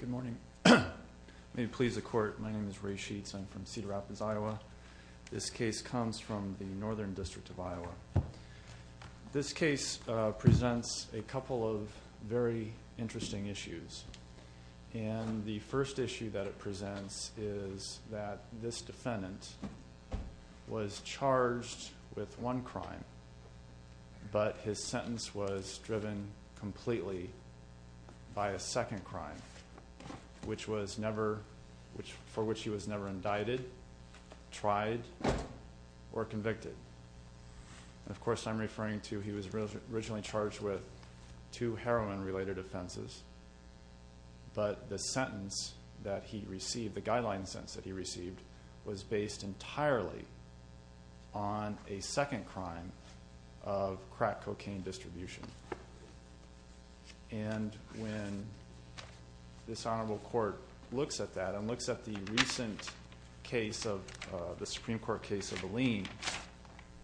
Good morning. May it please the court, my name is Ray Sheets. I'm from Cedar Rapids, Iowa. This case comes from the Northern District of Iowa. This case presents a couple of very And the first issue that it presents is that this defendant was charged with one crime, but his sentence was driven completely by a second crime, for which he was never indicted, tried, or convicted. Of course I'm referring to he was originally charged with two heroin related offenses, but the sentence that he received, the guideline sentence that he received, was based entirely on a second crime of crack cocaine distribution. And when this Honorable Court looks at that and looks at the recent case of the Supreme Court case of Alene,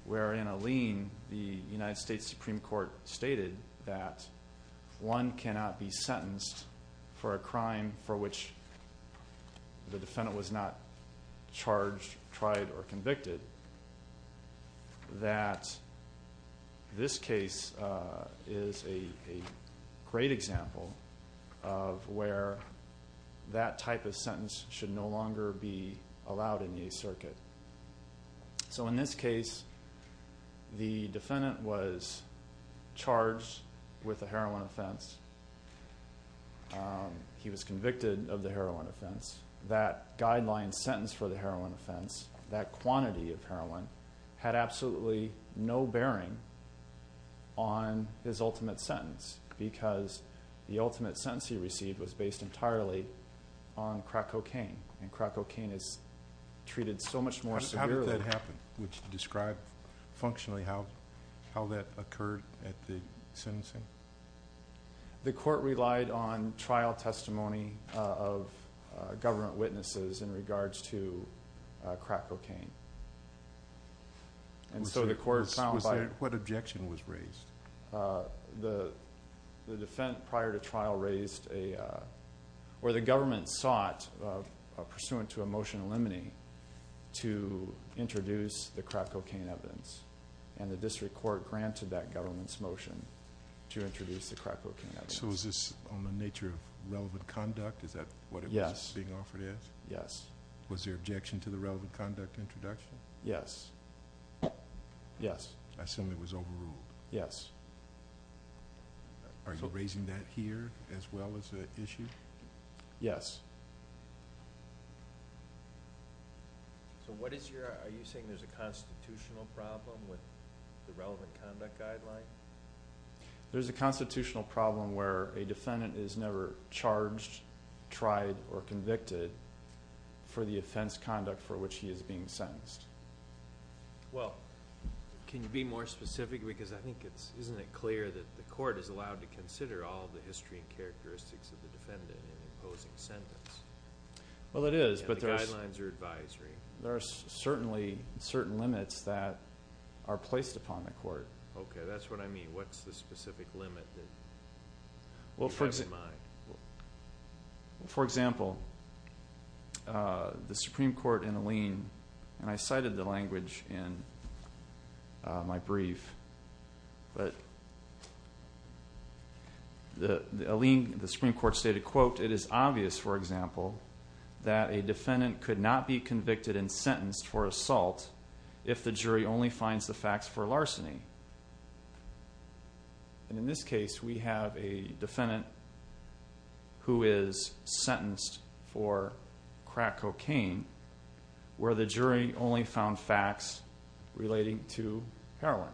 where the United States Supreme Court stated that one cannot be sentenced for a crime for which the defendant was not charged, tried, or convicted, that this case is a great example of where that type of sentence should no longer be allowed in the Eighth Circuit. So in this case, the defendant was charged with a heroin offense. He was convicted of the heroin offense. That guideline sentence for the heroin offense, that quantity of heroin, had absolutely no bearing on his ultimate sentence, because the ultimate sentence he received was based entirely on crack cocaine. And crack cocaine is treated so much more severely. How did that happen? Would you describe functionally how that occurred at the sentencing? The court relied on trial testimony of government witnesses in regards to crack cocaine. And so the court found by... What objection was raised? The defendant, prior to trial, raised a... where the government sought, pursuant to a motion eliminating, to introduce the crack cocaine evidence. And the district court granted that government's motion to introduce the crack cocaine evidence. So is this on the nature of relevant conduct? Is that what it was being offered as? Yes. Was there objection to the relevant conduct introduction? Yes. I assume it was overruled. Yes. Are you raising that here, as well as the issue? Yes. So what is your... are you saying there's a constitutional problem with the relevant conduct guideline? There's a constitutional problem where a defendant is never charged, tried, or convicted for the offense conduct for which he is being sentenced. Well, can you be more specific? Because I think it's... isn't it clear that the court is allowed to consider all the history and characteristics of the defendant in an imposing sentence? Well, it is, but there's... And the guidelines are advisory. There are certainly certain limits that are placed upon the court. Okay, that's what I mean. What's the specific limit that you have in mind? For example, the Supreme Court in Alene, and I cited the language in my brief, but the Supreme Court stated, quote, it is obvious, for example, that a defendant could not be convicted and sentenced for assault if the jury only finds the facts for larceny. And in this case, we have a defendant who is sentenced for crack cocaine where the jury only found facts relating to heroin.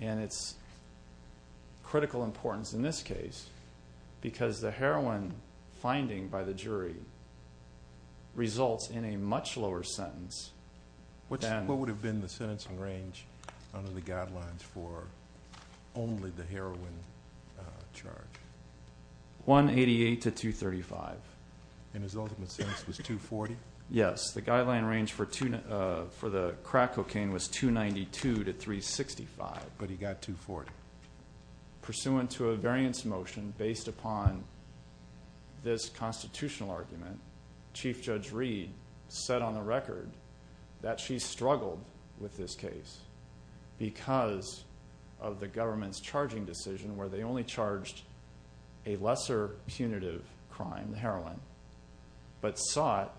And it's critical importance in this case because the heroin finding by the jury results in a much lower sentence than... What would have been the sentencing range under the guidelines for only the heroin charge? 188 to 235. And his ultimate sentence was 240? Yes, the guideline range for the crack cocaine was 292 to 365. But he got 240. Pursuant to a variance motion based upon this constitutional argument, Chief Judge Reed said on the record that she struggled with this case because of the government's charging decision where they only charged a lesser punitive crime, the heroin, but sought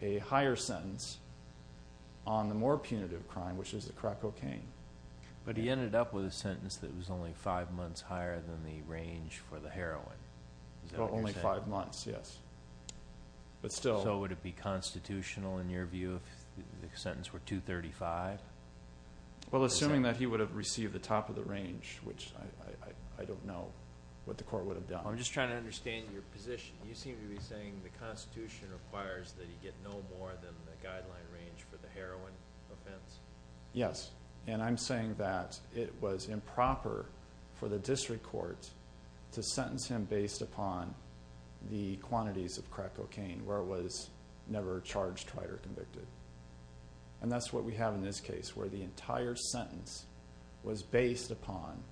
a higher sentence on the more punitive crime, which is the crack cocaine. But he ended up with a sentence that was only five months higher than the range for the heroin. Only five months, yes. So would it be constitutional in your view if the sentence were 235? Well, assuming that he would have received the top of the range, which I don't know what the court would have done. I'm just trying to understand your position. You seem to be saying the Constitution requires that he get no more than the guideline range for the heroin offense. Yes, and I'm saying that it was improper for the district court to sentence him based upon the quantities of crack cocaine where it was never charged, tried, or convicted. And that's what we have in this case where the entire sentence was based upon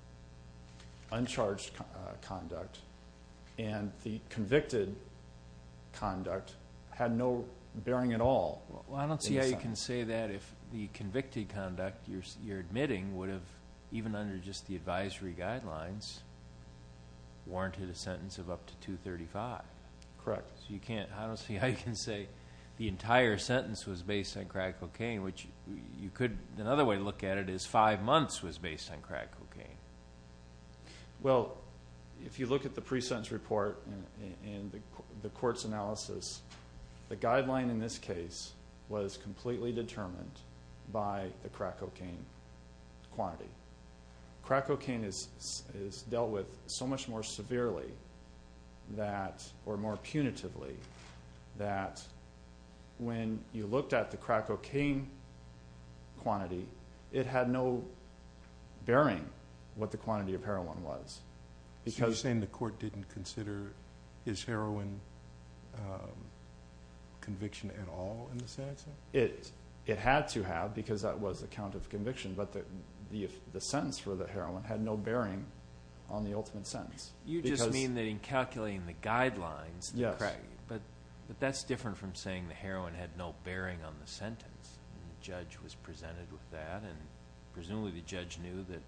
uncharged conduct, and the convicted conduct had no bearing at all. Well, I don't see how you can say that if the convicted conduct you're admitting would have, even under just the advisory guidelines, warranted a sentence of up to 235. Correct. So you can't, I don't see how you can say the entire sentence was based on crack cocaine, which you could another way to look at it is five months was based on crack cocaine. Well, if you look at the pre-sentence report and the court's analysis, the guideline in this case was completely determined by the crack cocaine quantity. Crack cocaine is dealt with so much more severely or more punitively that when you looked at the crack cocaine quantity, it had no bearing what the quantity of heroin was. So you're saying the court didn't consider his heroin conviction at all in the sentence? It had to have because that was a count of conviction, but the sentence for the heroin had no bearing on the ultimate sentence. You just mean that in calculating the guidelines, but that's different from saying the heroin had no bearing on the sentence. The judge was presented with that, and presumably the judge knew that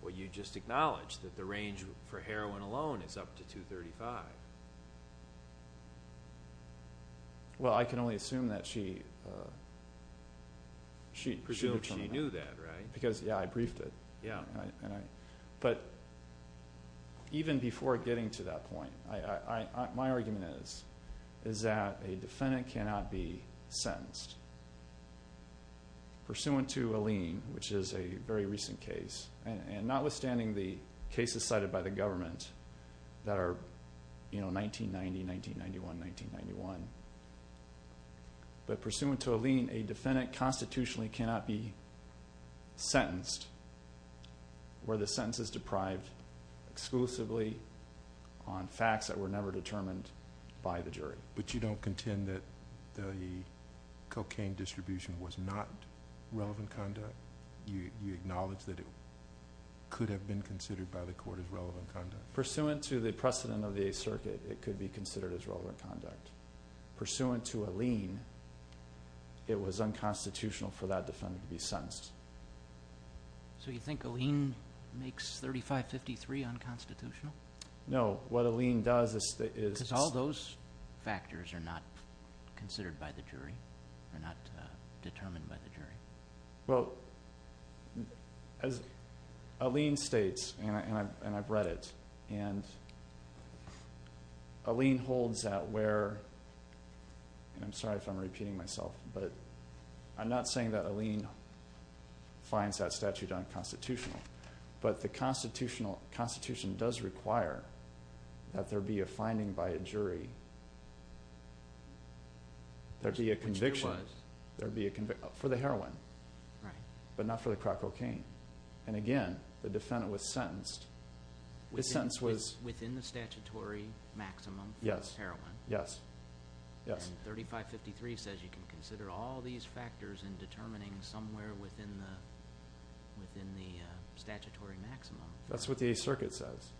what you just acknowledged, that the range for heroin alone is up to 235. Well, I can only assume that she knew that, right? Because, yeah, I briefed it. But even before getting to that point, my argument is that a defendant cannot be sentenced. Pursuant to a lien, which is a very recent case, and notwithstanding the cases cited by the government that are 1990, 1991, 1991, but pursuant to a lien, a defendant constitutionally cannot be sentenced where the sentence is deprived exclusively on facts that were never determined by the jury. But you don't contend that the cocaine distribution was not relevant conduct? You acknowledge that it could have been considered by the court as relevant conduct? Pursuant to the precedent of the Eighth Circuit, it could be considered as relevant conduct. Pursuant to a lien, it was unconstitutional for that defendant to be sentenced. So you think a lien makes 3553 unconstitutional? No, what a lien does is... Because all those factors are not considered by the jury, are not determined by the jury. Well, a lien states, and I've read it, and a lien holds that where, and I'm sorry if I'm repeating myself, but I'm not saying that a lien finds that statute unconstitutional. But the Constitution does require that there be a finding by a jury, there be a conviction for the heroin, but not for the crack cocaine. And again, the defendant was sentenced. Within the statutory maximum for heroin? Yes, yes. And 3553 says you can consider all these factors in determining somewhere within the statutory maximum. That's what the Eighth Circuit says.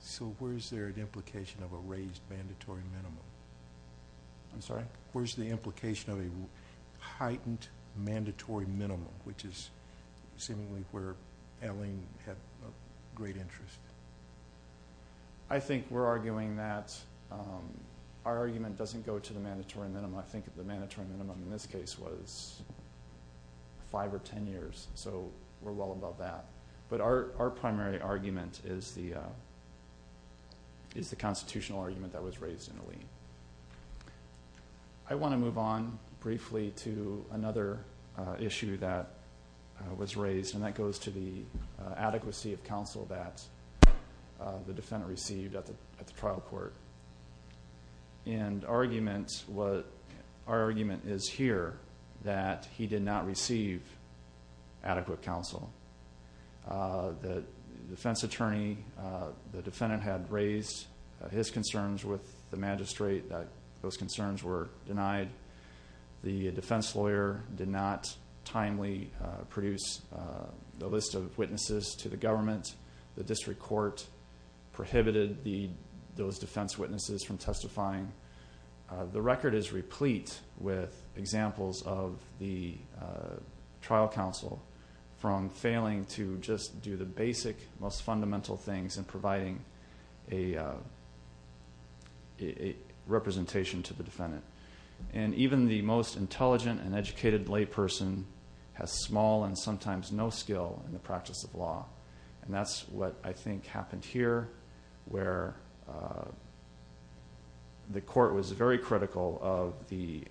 So where's there an implication of a raised mandatory minimum? I'm sorry? Where's the implication of a heightened mandatory minimum, which is seemingly where a lien had great interest? I think we're arguing that our argument doesn't go to the mandatory minimum. I think the mandatory minimum in this case was five or ten years, so we're well above that. But our primary argument is the constitutional argument that was raised in the lien. I want to move on briefly to another issue that was raised, and that goes to the adequacy of counsel that the defendant received at the trial court. And our argument is here that he did not receive adequate counsel. The defense attorney, the defendant had raised his concerns with the magistrate. Those concerns were denied. The defense lawyer did not timely produce the list of witnesses to the government. The district court prohibited those defense witnesses from testifying. The record is replete with examples of the trial counsel from failing to just do the basic, most fundamental things in providing a representation to the defendant. And even the most intelligent and educated layperson has small and sometimes no skill in the practice of law. And that's what I think happened here, where the court was very critical of the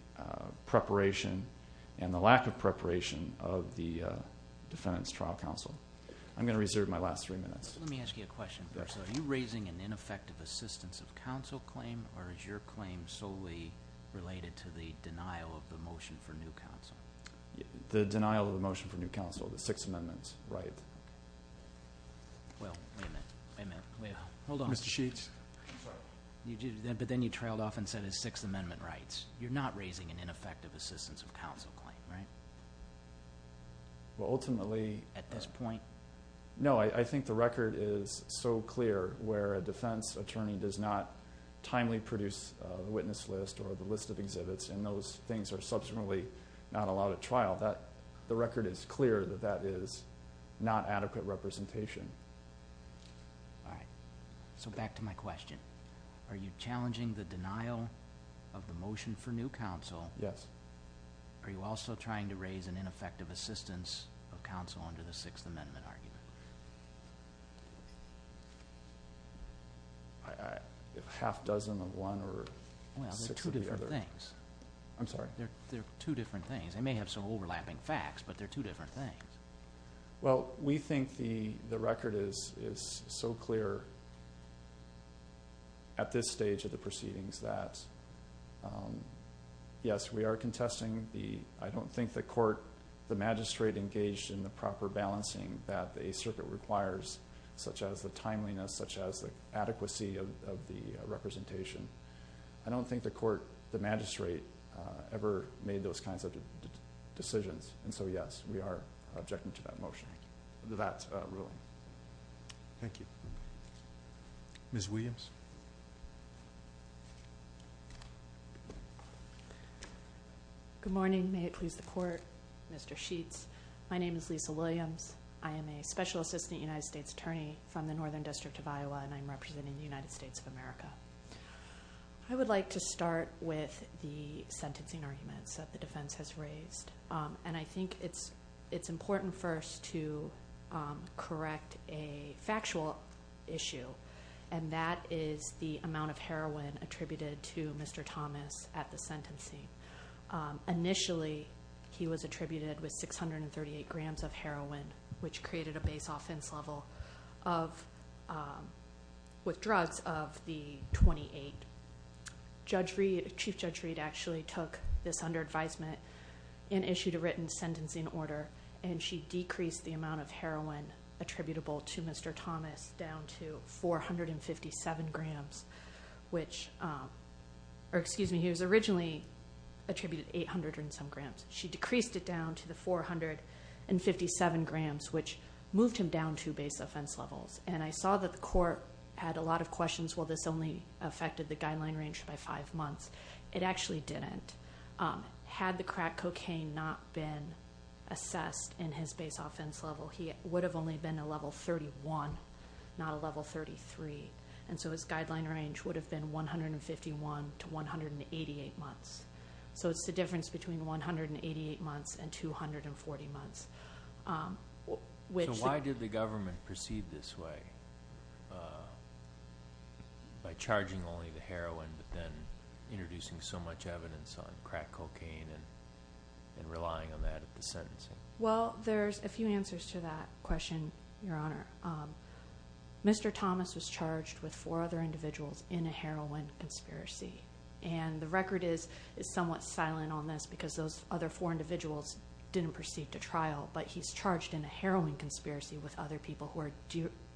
preparation and the lack of preparation of the defendant's trial counsel. I'm going to reserve my last three minutes. Let me ask you a question first. Are you raising an ineffective assistance of counsel claim, or is your claim solely related to the denial of the motion for new counsel? The denial of the motion for new counsel, the Sixth Amendment right. Well, wait a minute. Hold on. Mr. Sheets. But then you trailed off and said it's Sixth Amendment rights. You're not raising an ineffective assistance of counsel claim, right? Well, ultimately. At this point? No. I think the record is so clear where a defense attorney does not timely produce a witness list or the list of exhibits, and those things are subsequently not allowed at trial. The record is clear that that is not adequate representation. All right. So back to my question. Are you challenging the denial of the motion for new counsel? Yes. Are you also trying to raise an ineffective assistance of counsel under the Sixth Amendment argument? A half dozen of one or six of the other. Well, they're two different things. I'm sorry? They're two different things. They may have some overlapping facts, but they're two different things. Well, we think the record is so clear at this stage of the proceedings that, yes, we are contesting. I don't think the magistrate engaged in the proper balancing that the Eighth Circuit requires, such as the timeliness, such as the adequacy of the representation. I don't think the magistrate ever made those kinds of decisions. And so, yes, we are objecting to that ruling. Thank you. Ms. Williams? Good morning. May it please the Court. Mr. Sheets, my name is Lisa Williams. I am a Special Assistant United States Attorney from the Northern District of Iowa, and I'm representing the United States of America. I would like to start with the sentencing arguments that the defense has raised, and I think it's important first to correct a factual issue, and that is the amount of heroin attributed to Mr. Thomas at the sentencing. Initially, he was attributed with 638 grams of heroin, which created a base offense level with drugs of the 28. Chief Judge Reed actually took this under advisement and issued a written sentencing order, and she decreased the amount of heroin attributable to Mr. Thomas down to 457 grams, which he was originally attributed 800 and some grams. She decreased it down to the 457 grams, which moved him down to base offense levels. And I saw that the Court had a lot of questions, well, this only affected the guideline range by five months. It actually didn't. Had the crack cocaine not been assessed in his base offense level, he would have only been a level 31, not a level 33. And so his guideline range would have been 151 to 188 months. So it's the difference between 188 months and 240 months. So why did the government proceed this way, by charging only the heroin but then introducing so much evidence on crack cocaine and relying on that at the sentencing? Well, there's a few answers to that question, Your Honor. Mr. Thomas was charged with four other individuals in a heroin conspiracy, and the record is somewhat silent on this because those other four individuals didn't proceed to trial, but he's charged in a heroin conspiracy with other people who are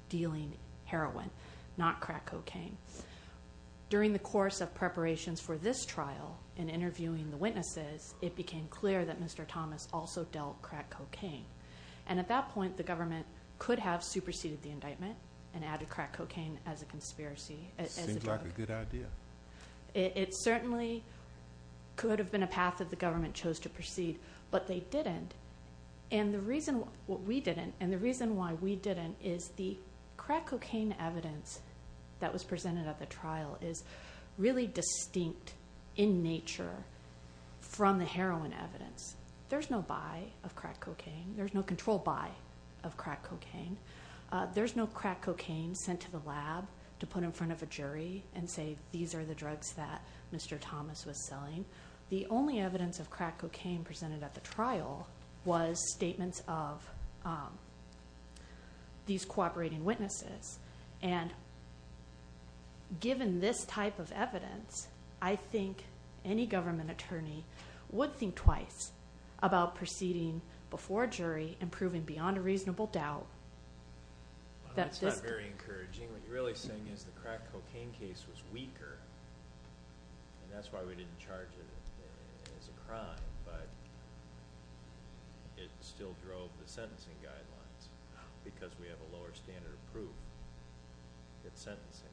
dealing heroin, not crack cocaine. During the course of preparations for this trial and interviewing the witnesses, it became clear that Mr. Thomas also dealt crack cocaine. And at that point, the government could have superseded the indictment and added crack cocaine as a drug. Seems like a good idea. It certainly could have been a path that the government chose to proceed, but they didn't. And the reason why we didn't is the crack cocaine evidence that was presented at the trial is really distinct in nature from the heroin evidence. There's no buy of crack cocaine. There's no control buy of crack cocaine. There's no crack cocaine sent to the lab to put in front of a jury and say these are the drugs that Mr. Thomas was selling. The only evidence of crack cocaine presented at the trial was statements of these cooperating witnesses. And given this type of evidence, I think any government attorney would think twice about proceeding before a jury and proving beyond a reasonable doubt that this... It's not very encouraging. What you're really saying is the crack cocaine case was weaker, and that's why we didn't charge it as a crime, but it still drove the sentencing guidelines because we have a lower standard of proof at sentencing.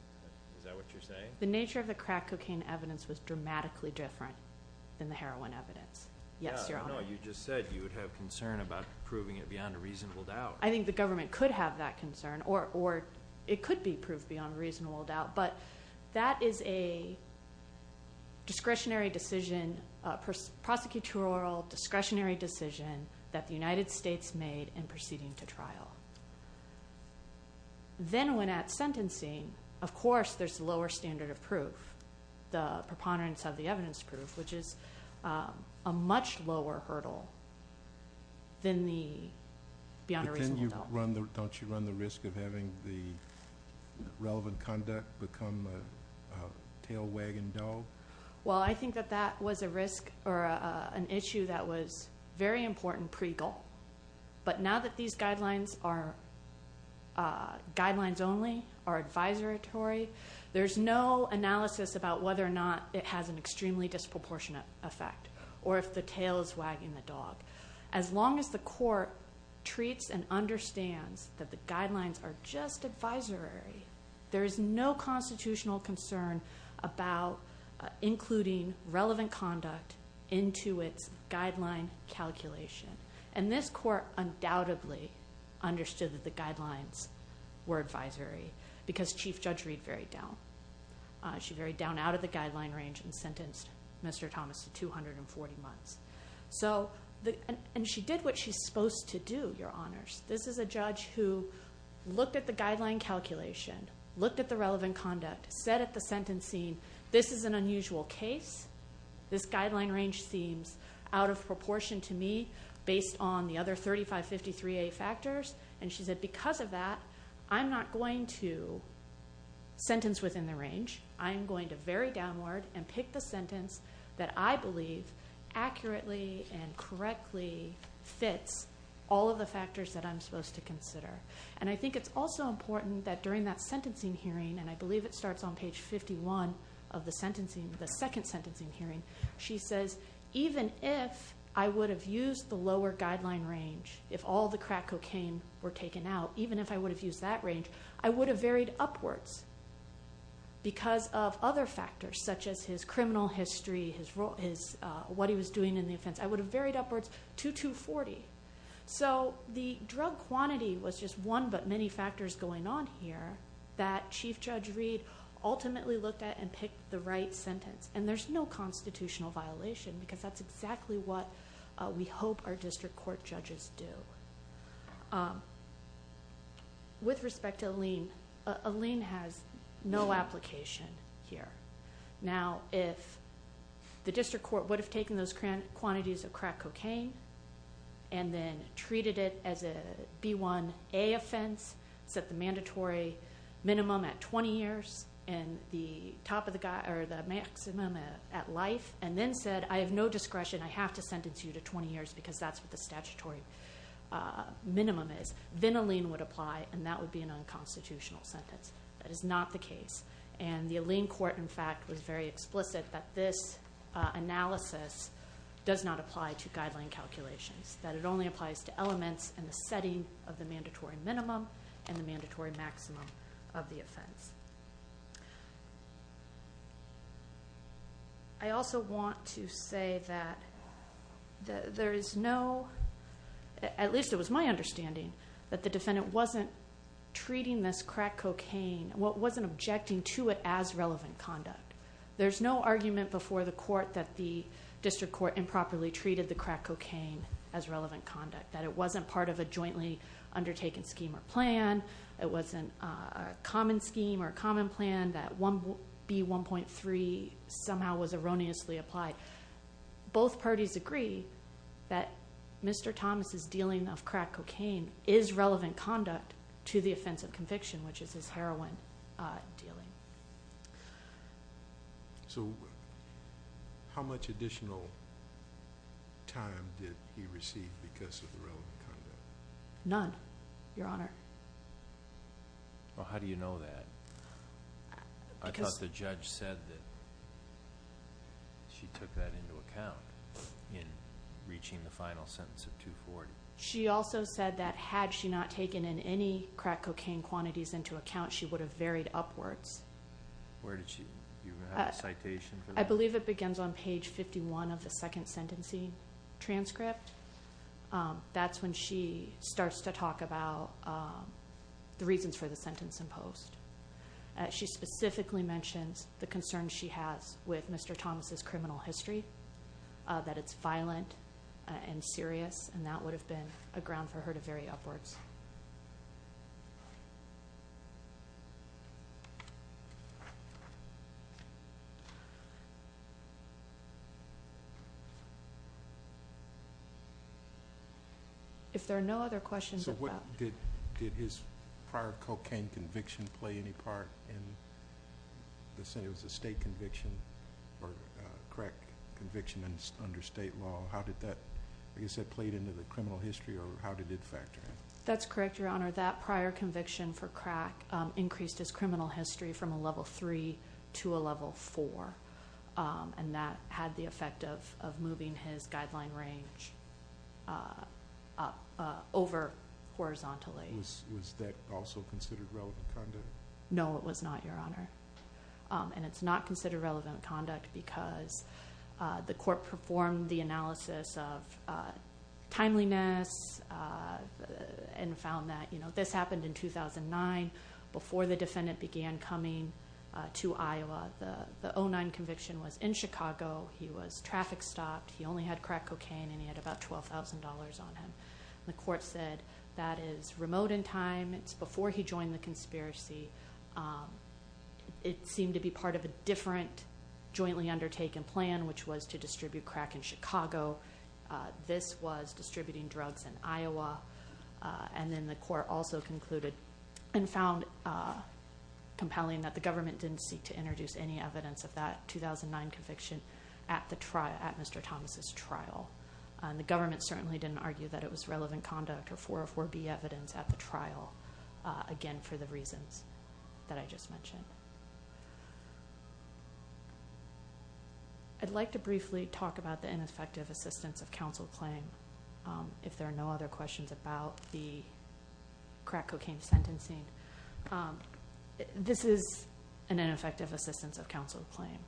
Is that what you're saying? The nature of the crack cocaine evidence was dramatically different than the heroin evidence. Yes, Your Honor. No, you just said you would have concern about proving it beyond a reasonable doubt. I think the government could have that concern, or it could be proved beyond a reasonable doubt, but that is a discretionary decision, prosecutorial discretionary decision, that the United States made in proceeding to trial. Then when at sentencing, of course, there's a lower standard of proof, the preponderance of the evidence proof, which is a much lower hurdle than the beyond a reasonable doubt. Don't you run the risk of having the relevant conduct become a tail wagging dog? Well, I think that that was a risk or an issue that was very important pre-goal, but now that these guidelines are guidelines only, are advisory, there's no analysis about whether or not it has an extremely disproportionate effect As long as the court treats and understands that the guidelines are just advisory, there is no constitutional concern about including relevant conduct into its guideline calculation. And this court undoubtedly understood that the guidelines were advisory because Chief Judge Reed varied down. She varied down out of the guideline range and sentenced Mr. Thomas to 240 months. And she did what she's supposed to do, Your Honors. This is a judge who looked at the guideline calculation, looked at the relevant conduct, said at the sentencing, this is an unusual case. This guideline range seems out of proportion to me based on the other 3553A factors. And she said, because of that, I'm not going to sentence within the range. I am going to vary downward and pick the sentence that I believe accurately and correctly fits all of the factors that I'm supposed to consider. And I think it's also important that during that sentencing hearing, and I believe it starts on page 51 of the second sentencing hearing, she says, even if I would have used the lower guideline range, if all the crack cocaine were taken out, even if I would have used that range, I would have varied upwards because of other factors such as his criminal history, what he was doing in the offense. I would have varied upwards to 240. So the drug quantity was just one but many factors going on here that Chief Judge Reed ultimately looked at and picked the right sentence. And there's no constitutional violation because that's exactly what we hope our district court judges do. With respect to Alene, Alene has no application here. Now, if the district court would have taken those quantities of crack cocaine and then treated it as a B1A offense, set the mandatory minimum at 20 years and the maximum at life, and then said, I have no discretion. I have to sentence you to 20 years because that's what the statutory minimum is, then Alene would apply and that would be an unconstitutional sentence. That is not the case. And the Alene court, in fact, was very explicit that this analysis does not apply to guideline calculations, that it only applies to elements in the setting of the mandatory minimum and the mandatory maximum of the offense. I also want to say that there is no, at least it was my understanding, that the defendant wasn't treating this crack cocaine, wasn't objecting to it as relevant conduct. There's no argument before the court that the district court improperly treated the crack cocaine as relevant conduct, that it wasn't part of a jointly undertaken scheme or plan, it wasn't a common scheme or a common plan, that B1.3 somehow was erroneously applied. Both parties agree that Mr. Thomas' dealing of crack cocaine is relevant conduct to the offense of conviction, which is his heroin dealing. So how much additional time did he receive because of the relevant conduct? None, Your Honor. Well, how do you know that? I thought the judge said that she took that into account in reaching the final sentence of 240. She also said that had she not taken in any crack cocaine quantities into account, she would have varied upwards. Where did she? Do you have a citation for that? I believe it begins on page 51 of the second sentencing transcript. That's when she starts to talk about the reasons for the sentence in post. She specifically mentions the concerns she has with Mr. Thomas' criminal history, that it's violent and serious, and that would have been a ground for her to vary upwards. If there are no other questions at that— Did his prior cocaine conviction play any part in the sentence? It was a state conviction or crack conviction under state law. How did that, like I said, play into the criminal history, or how did it factor in? That's correct, Your Honor. That prior conviction for crack increased his criminal history from a level three to a level four, and that had the effect of moving his guideline range over horizontally. Was that also considered relevant conduct? No, it was not, Your Honor. It's not considered relevant conduct because the court performed the analysis of timeliness and found that this happened in 2009 before the defendant began coming to Iowa. The 2009 conviction was in Chicago. He was traffic stopped. He only had crack cocaine, and he had about $12,000 on him. The court said that is remote in time. It's before he joined the conspiracy. It seemed to be part of a different jointly undertaken plan, which was to distribute crack in Chicago. This was distributing drugs in Iowa. Then the court also concluded and found compelling that the government didn't seek to introduce any evidence of that 2009 conviction at Mr. Thomas' trial. The government certainly didn't argue that it was relevant conduct or 404B evidence at the trial, again, for the reasons that I just mentioned. I'd like to briefly talk about the ineffective assistance of counsel claim. If there are no other questions about the crack cocaine sentencing, this is an ineffective assistance of counsel claim.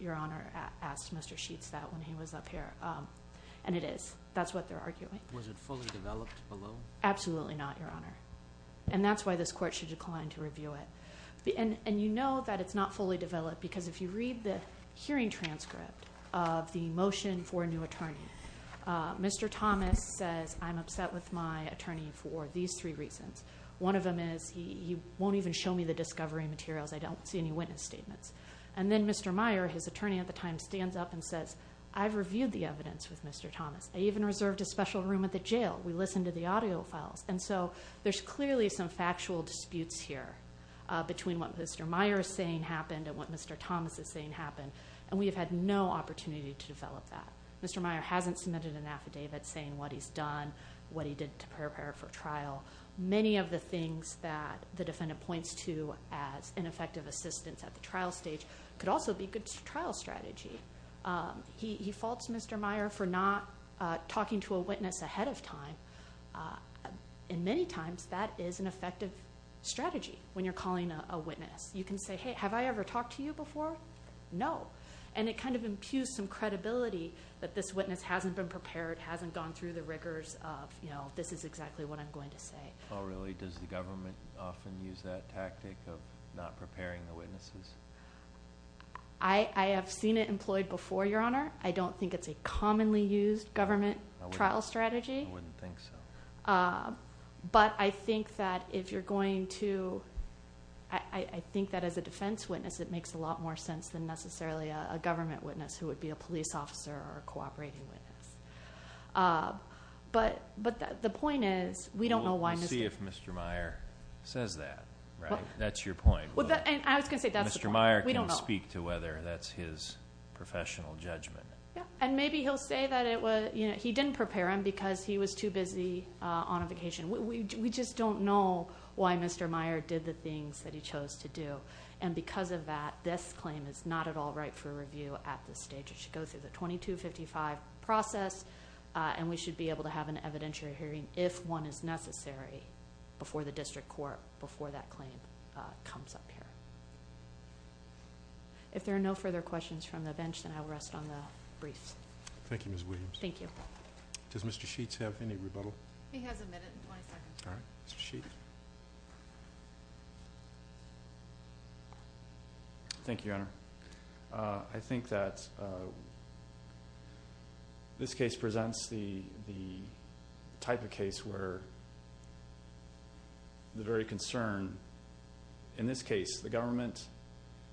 Your Honor asked Mr. Sheets that when he was up here, and it is. That's what they're arguing. Was it fully developed below? Absolutely not, Your Honor. That's why this court should decline to review it. You know that it's not fully developed because if you read the hearing transcript of the motion for a new attorney, Mr. Thomas says, I'm upset with my attorney for these three reasons. One of them is he won't even show me the discovery materials. I don't see any witness statements. Then Mr. Meyer, his attorney at the time, stands up and says, I've reviewed the evidence with Mr. Thomas. I even reserved a special room at the jail. We listened to the audio files. And so there's clearly some factual disputes here between what Mr. Meyer is saying happened and what Mr. Thomas is saying happened. And we have had no opportunity to develop that. Mr. Meyer hasn't submitted an affidavit saying what he's done, what he did to prepare for trial. Many of the things that the defendant points to as ineffective assistance at the trial stage could also be good trial strategy. He faults Mr. Meyer for not talking to a witness ahead of time. And many times that is an effective strategy when you're calling a witness. You can say, hey, have I ever talked to you before? No. And it kind of impugns some credibility that this witness hasn't been prepared, hasn't gone through the rigors of, you know, this is exactly what I'm going to say. Oh, really? Does the government often use that tactic of not preparing the witnesses? I have seen it employed before, Your Honor. I don't think it's a commonly used government trial strategy. I wouldn't think so. But I think that if you're going to – I think that as a defense witness it makes a lot more sense than necessarily a government witness who would be a police officer or a cooperating witness. But the point is we don't know why Mr. – We'll see if Mr. Meyer says that, right? That's your point. I was going to say that's the point. We don't know. Mr. Meyer can speak to whether that's his professional judgment. Yeah. And maybe he'll say that he didn't prepare him because he was too busy on a vacation. We just don't know why Mr. Meyer did the things that he chose to do. And because of that, this claim is not at all ripe for review at this stage. It should go through the 2255 process, and we should be able to have an evidentiary hearing if one is necessary before the district court, before that claim comes up here. If there are no further questions from the bench, then I will rest on the briefs. Thank you, Ms. Williams. Thank you. Does Mr. Sheets have any rebuttal? He has a minute and 20 seconds. All right. Mr. Sheets? Thank you, Your Honor. I think that this case presents the type of case where the very concern, in this case, the government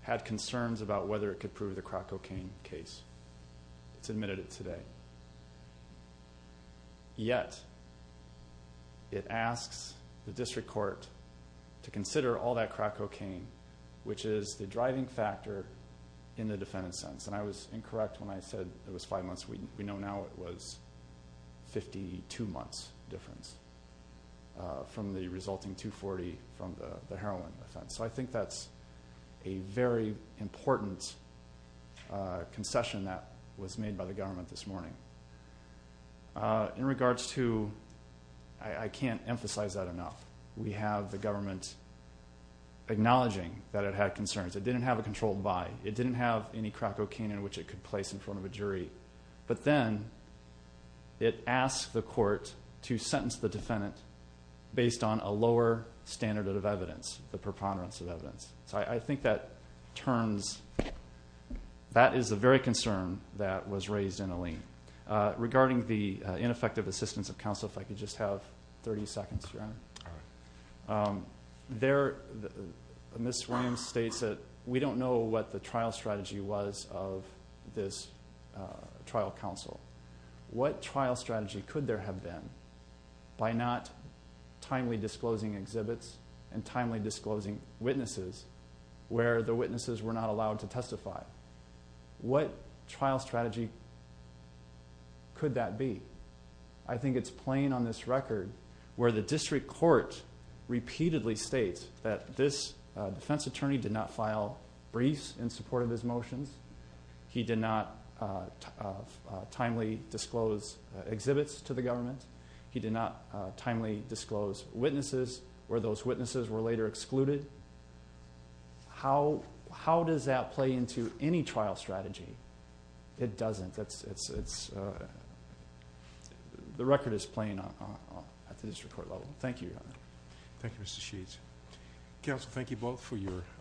had concerns about whether it could prove the crack cocaine case. It's admitted it today. Yet, it asks the district court to consider all that crack cocaine, which is the driving factor in the defendant's sentence. And I was incorrect when I said it was five months. We know now it was 52 months difference from the resulting 240 from the heroin offense. So I think that's a very important concession that was made by the government this morning. In regards to – I can't emphasize that enough. We have the government acknowledging that it had concerns. It didn't have a controlled buy. It didn't have any crack cocaine in which it could place in front of a jury. But then, it asked the court to sentence the defendant based on a lower standard of evidence, the preponderance of evidence. So I think that turns – that is the very concern that was raised in Alene. Regarding the ineffective assistance of counsel, if I could just have 30 seconds, Your Honor. All right. There – Ms. Williams states that we don't know what the trial strategy was of this trial counsel. What trial strategy could there have been by not timely disclosing exhibits and timely disclosing witnesses where the witnesses were not allowed to testify? What trial strategy could that be? I think it's playing on this record where the district court repeatedly states that this defense attorney did not file briefs in support of his motions. He did not timely disclose exhibits to the government. He did not timely disclose witnesses where those witnesses were later excluded. How does that play into any trial strategy? It doesn't. It's – the record is playing at the district court level. Thank you, Your Honor. Thank you, Mr. Sheets. Counsel, thank you both for your testimony.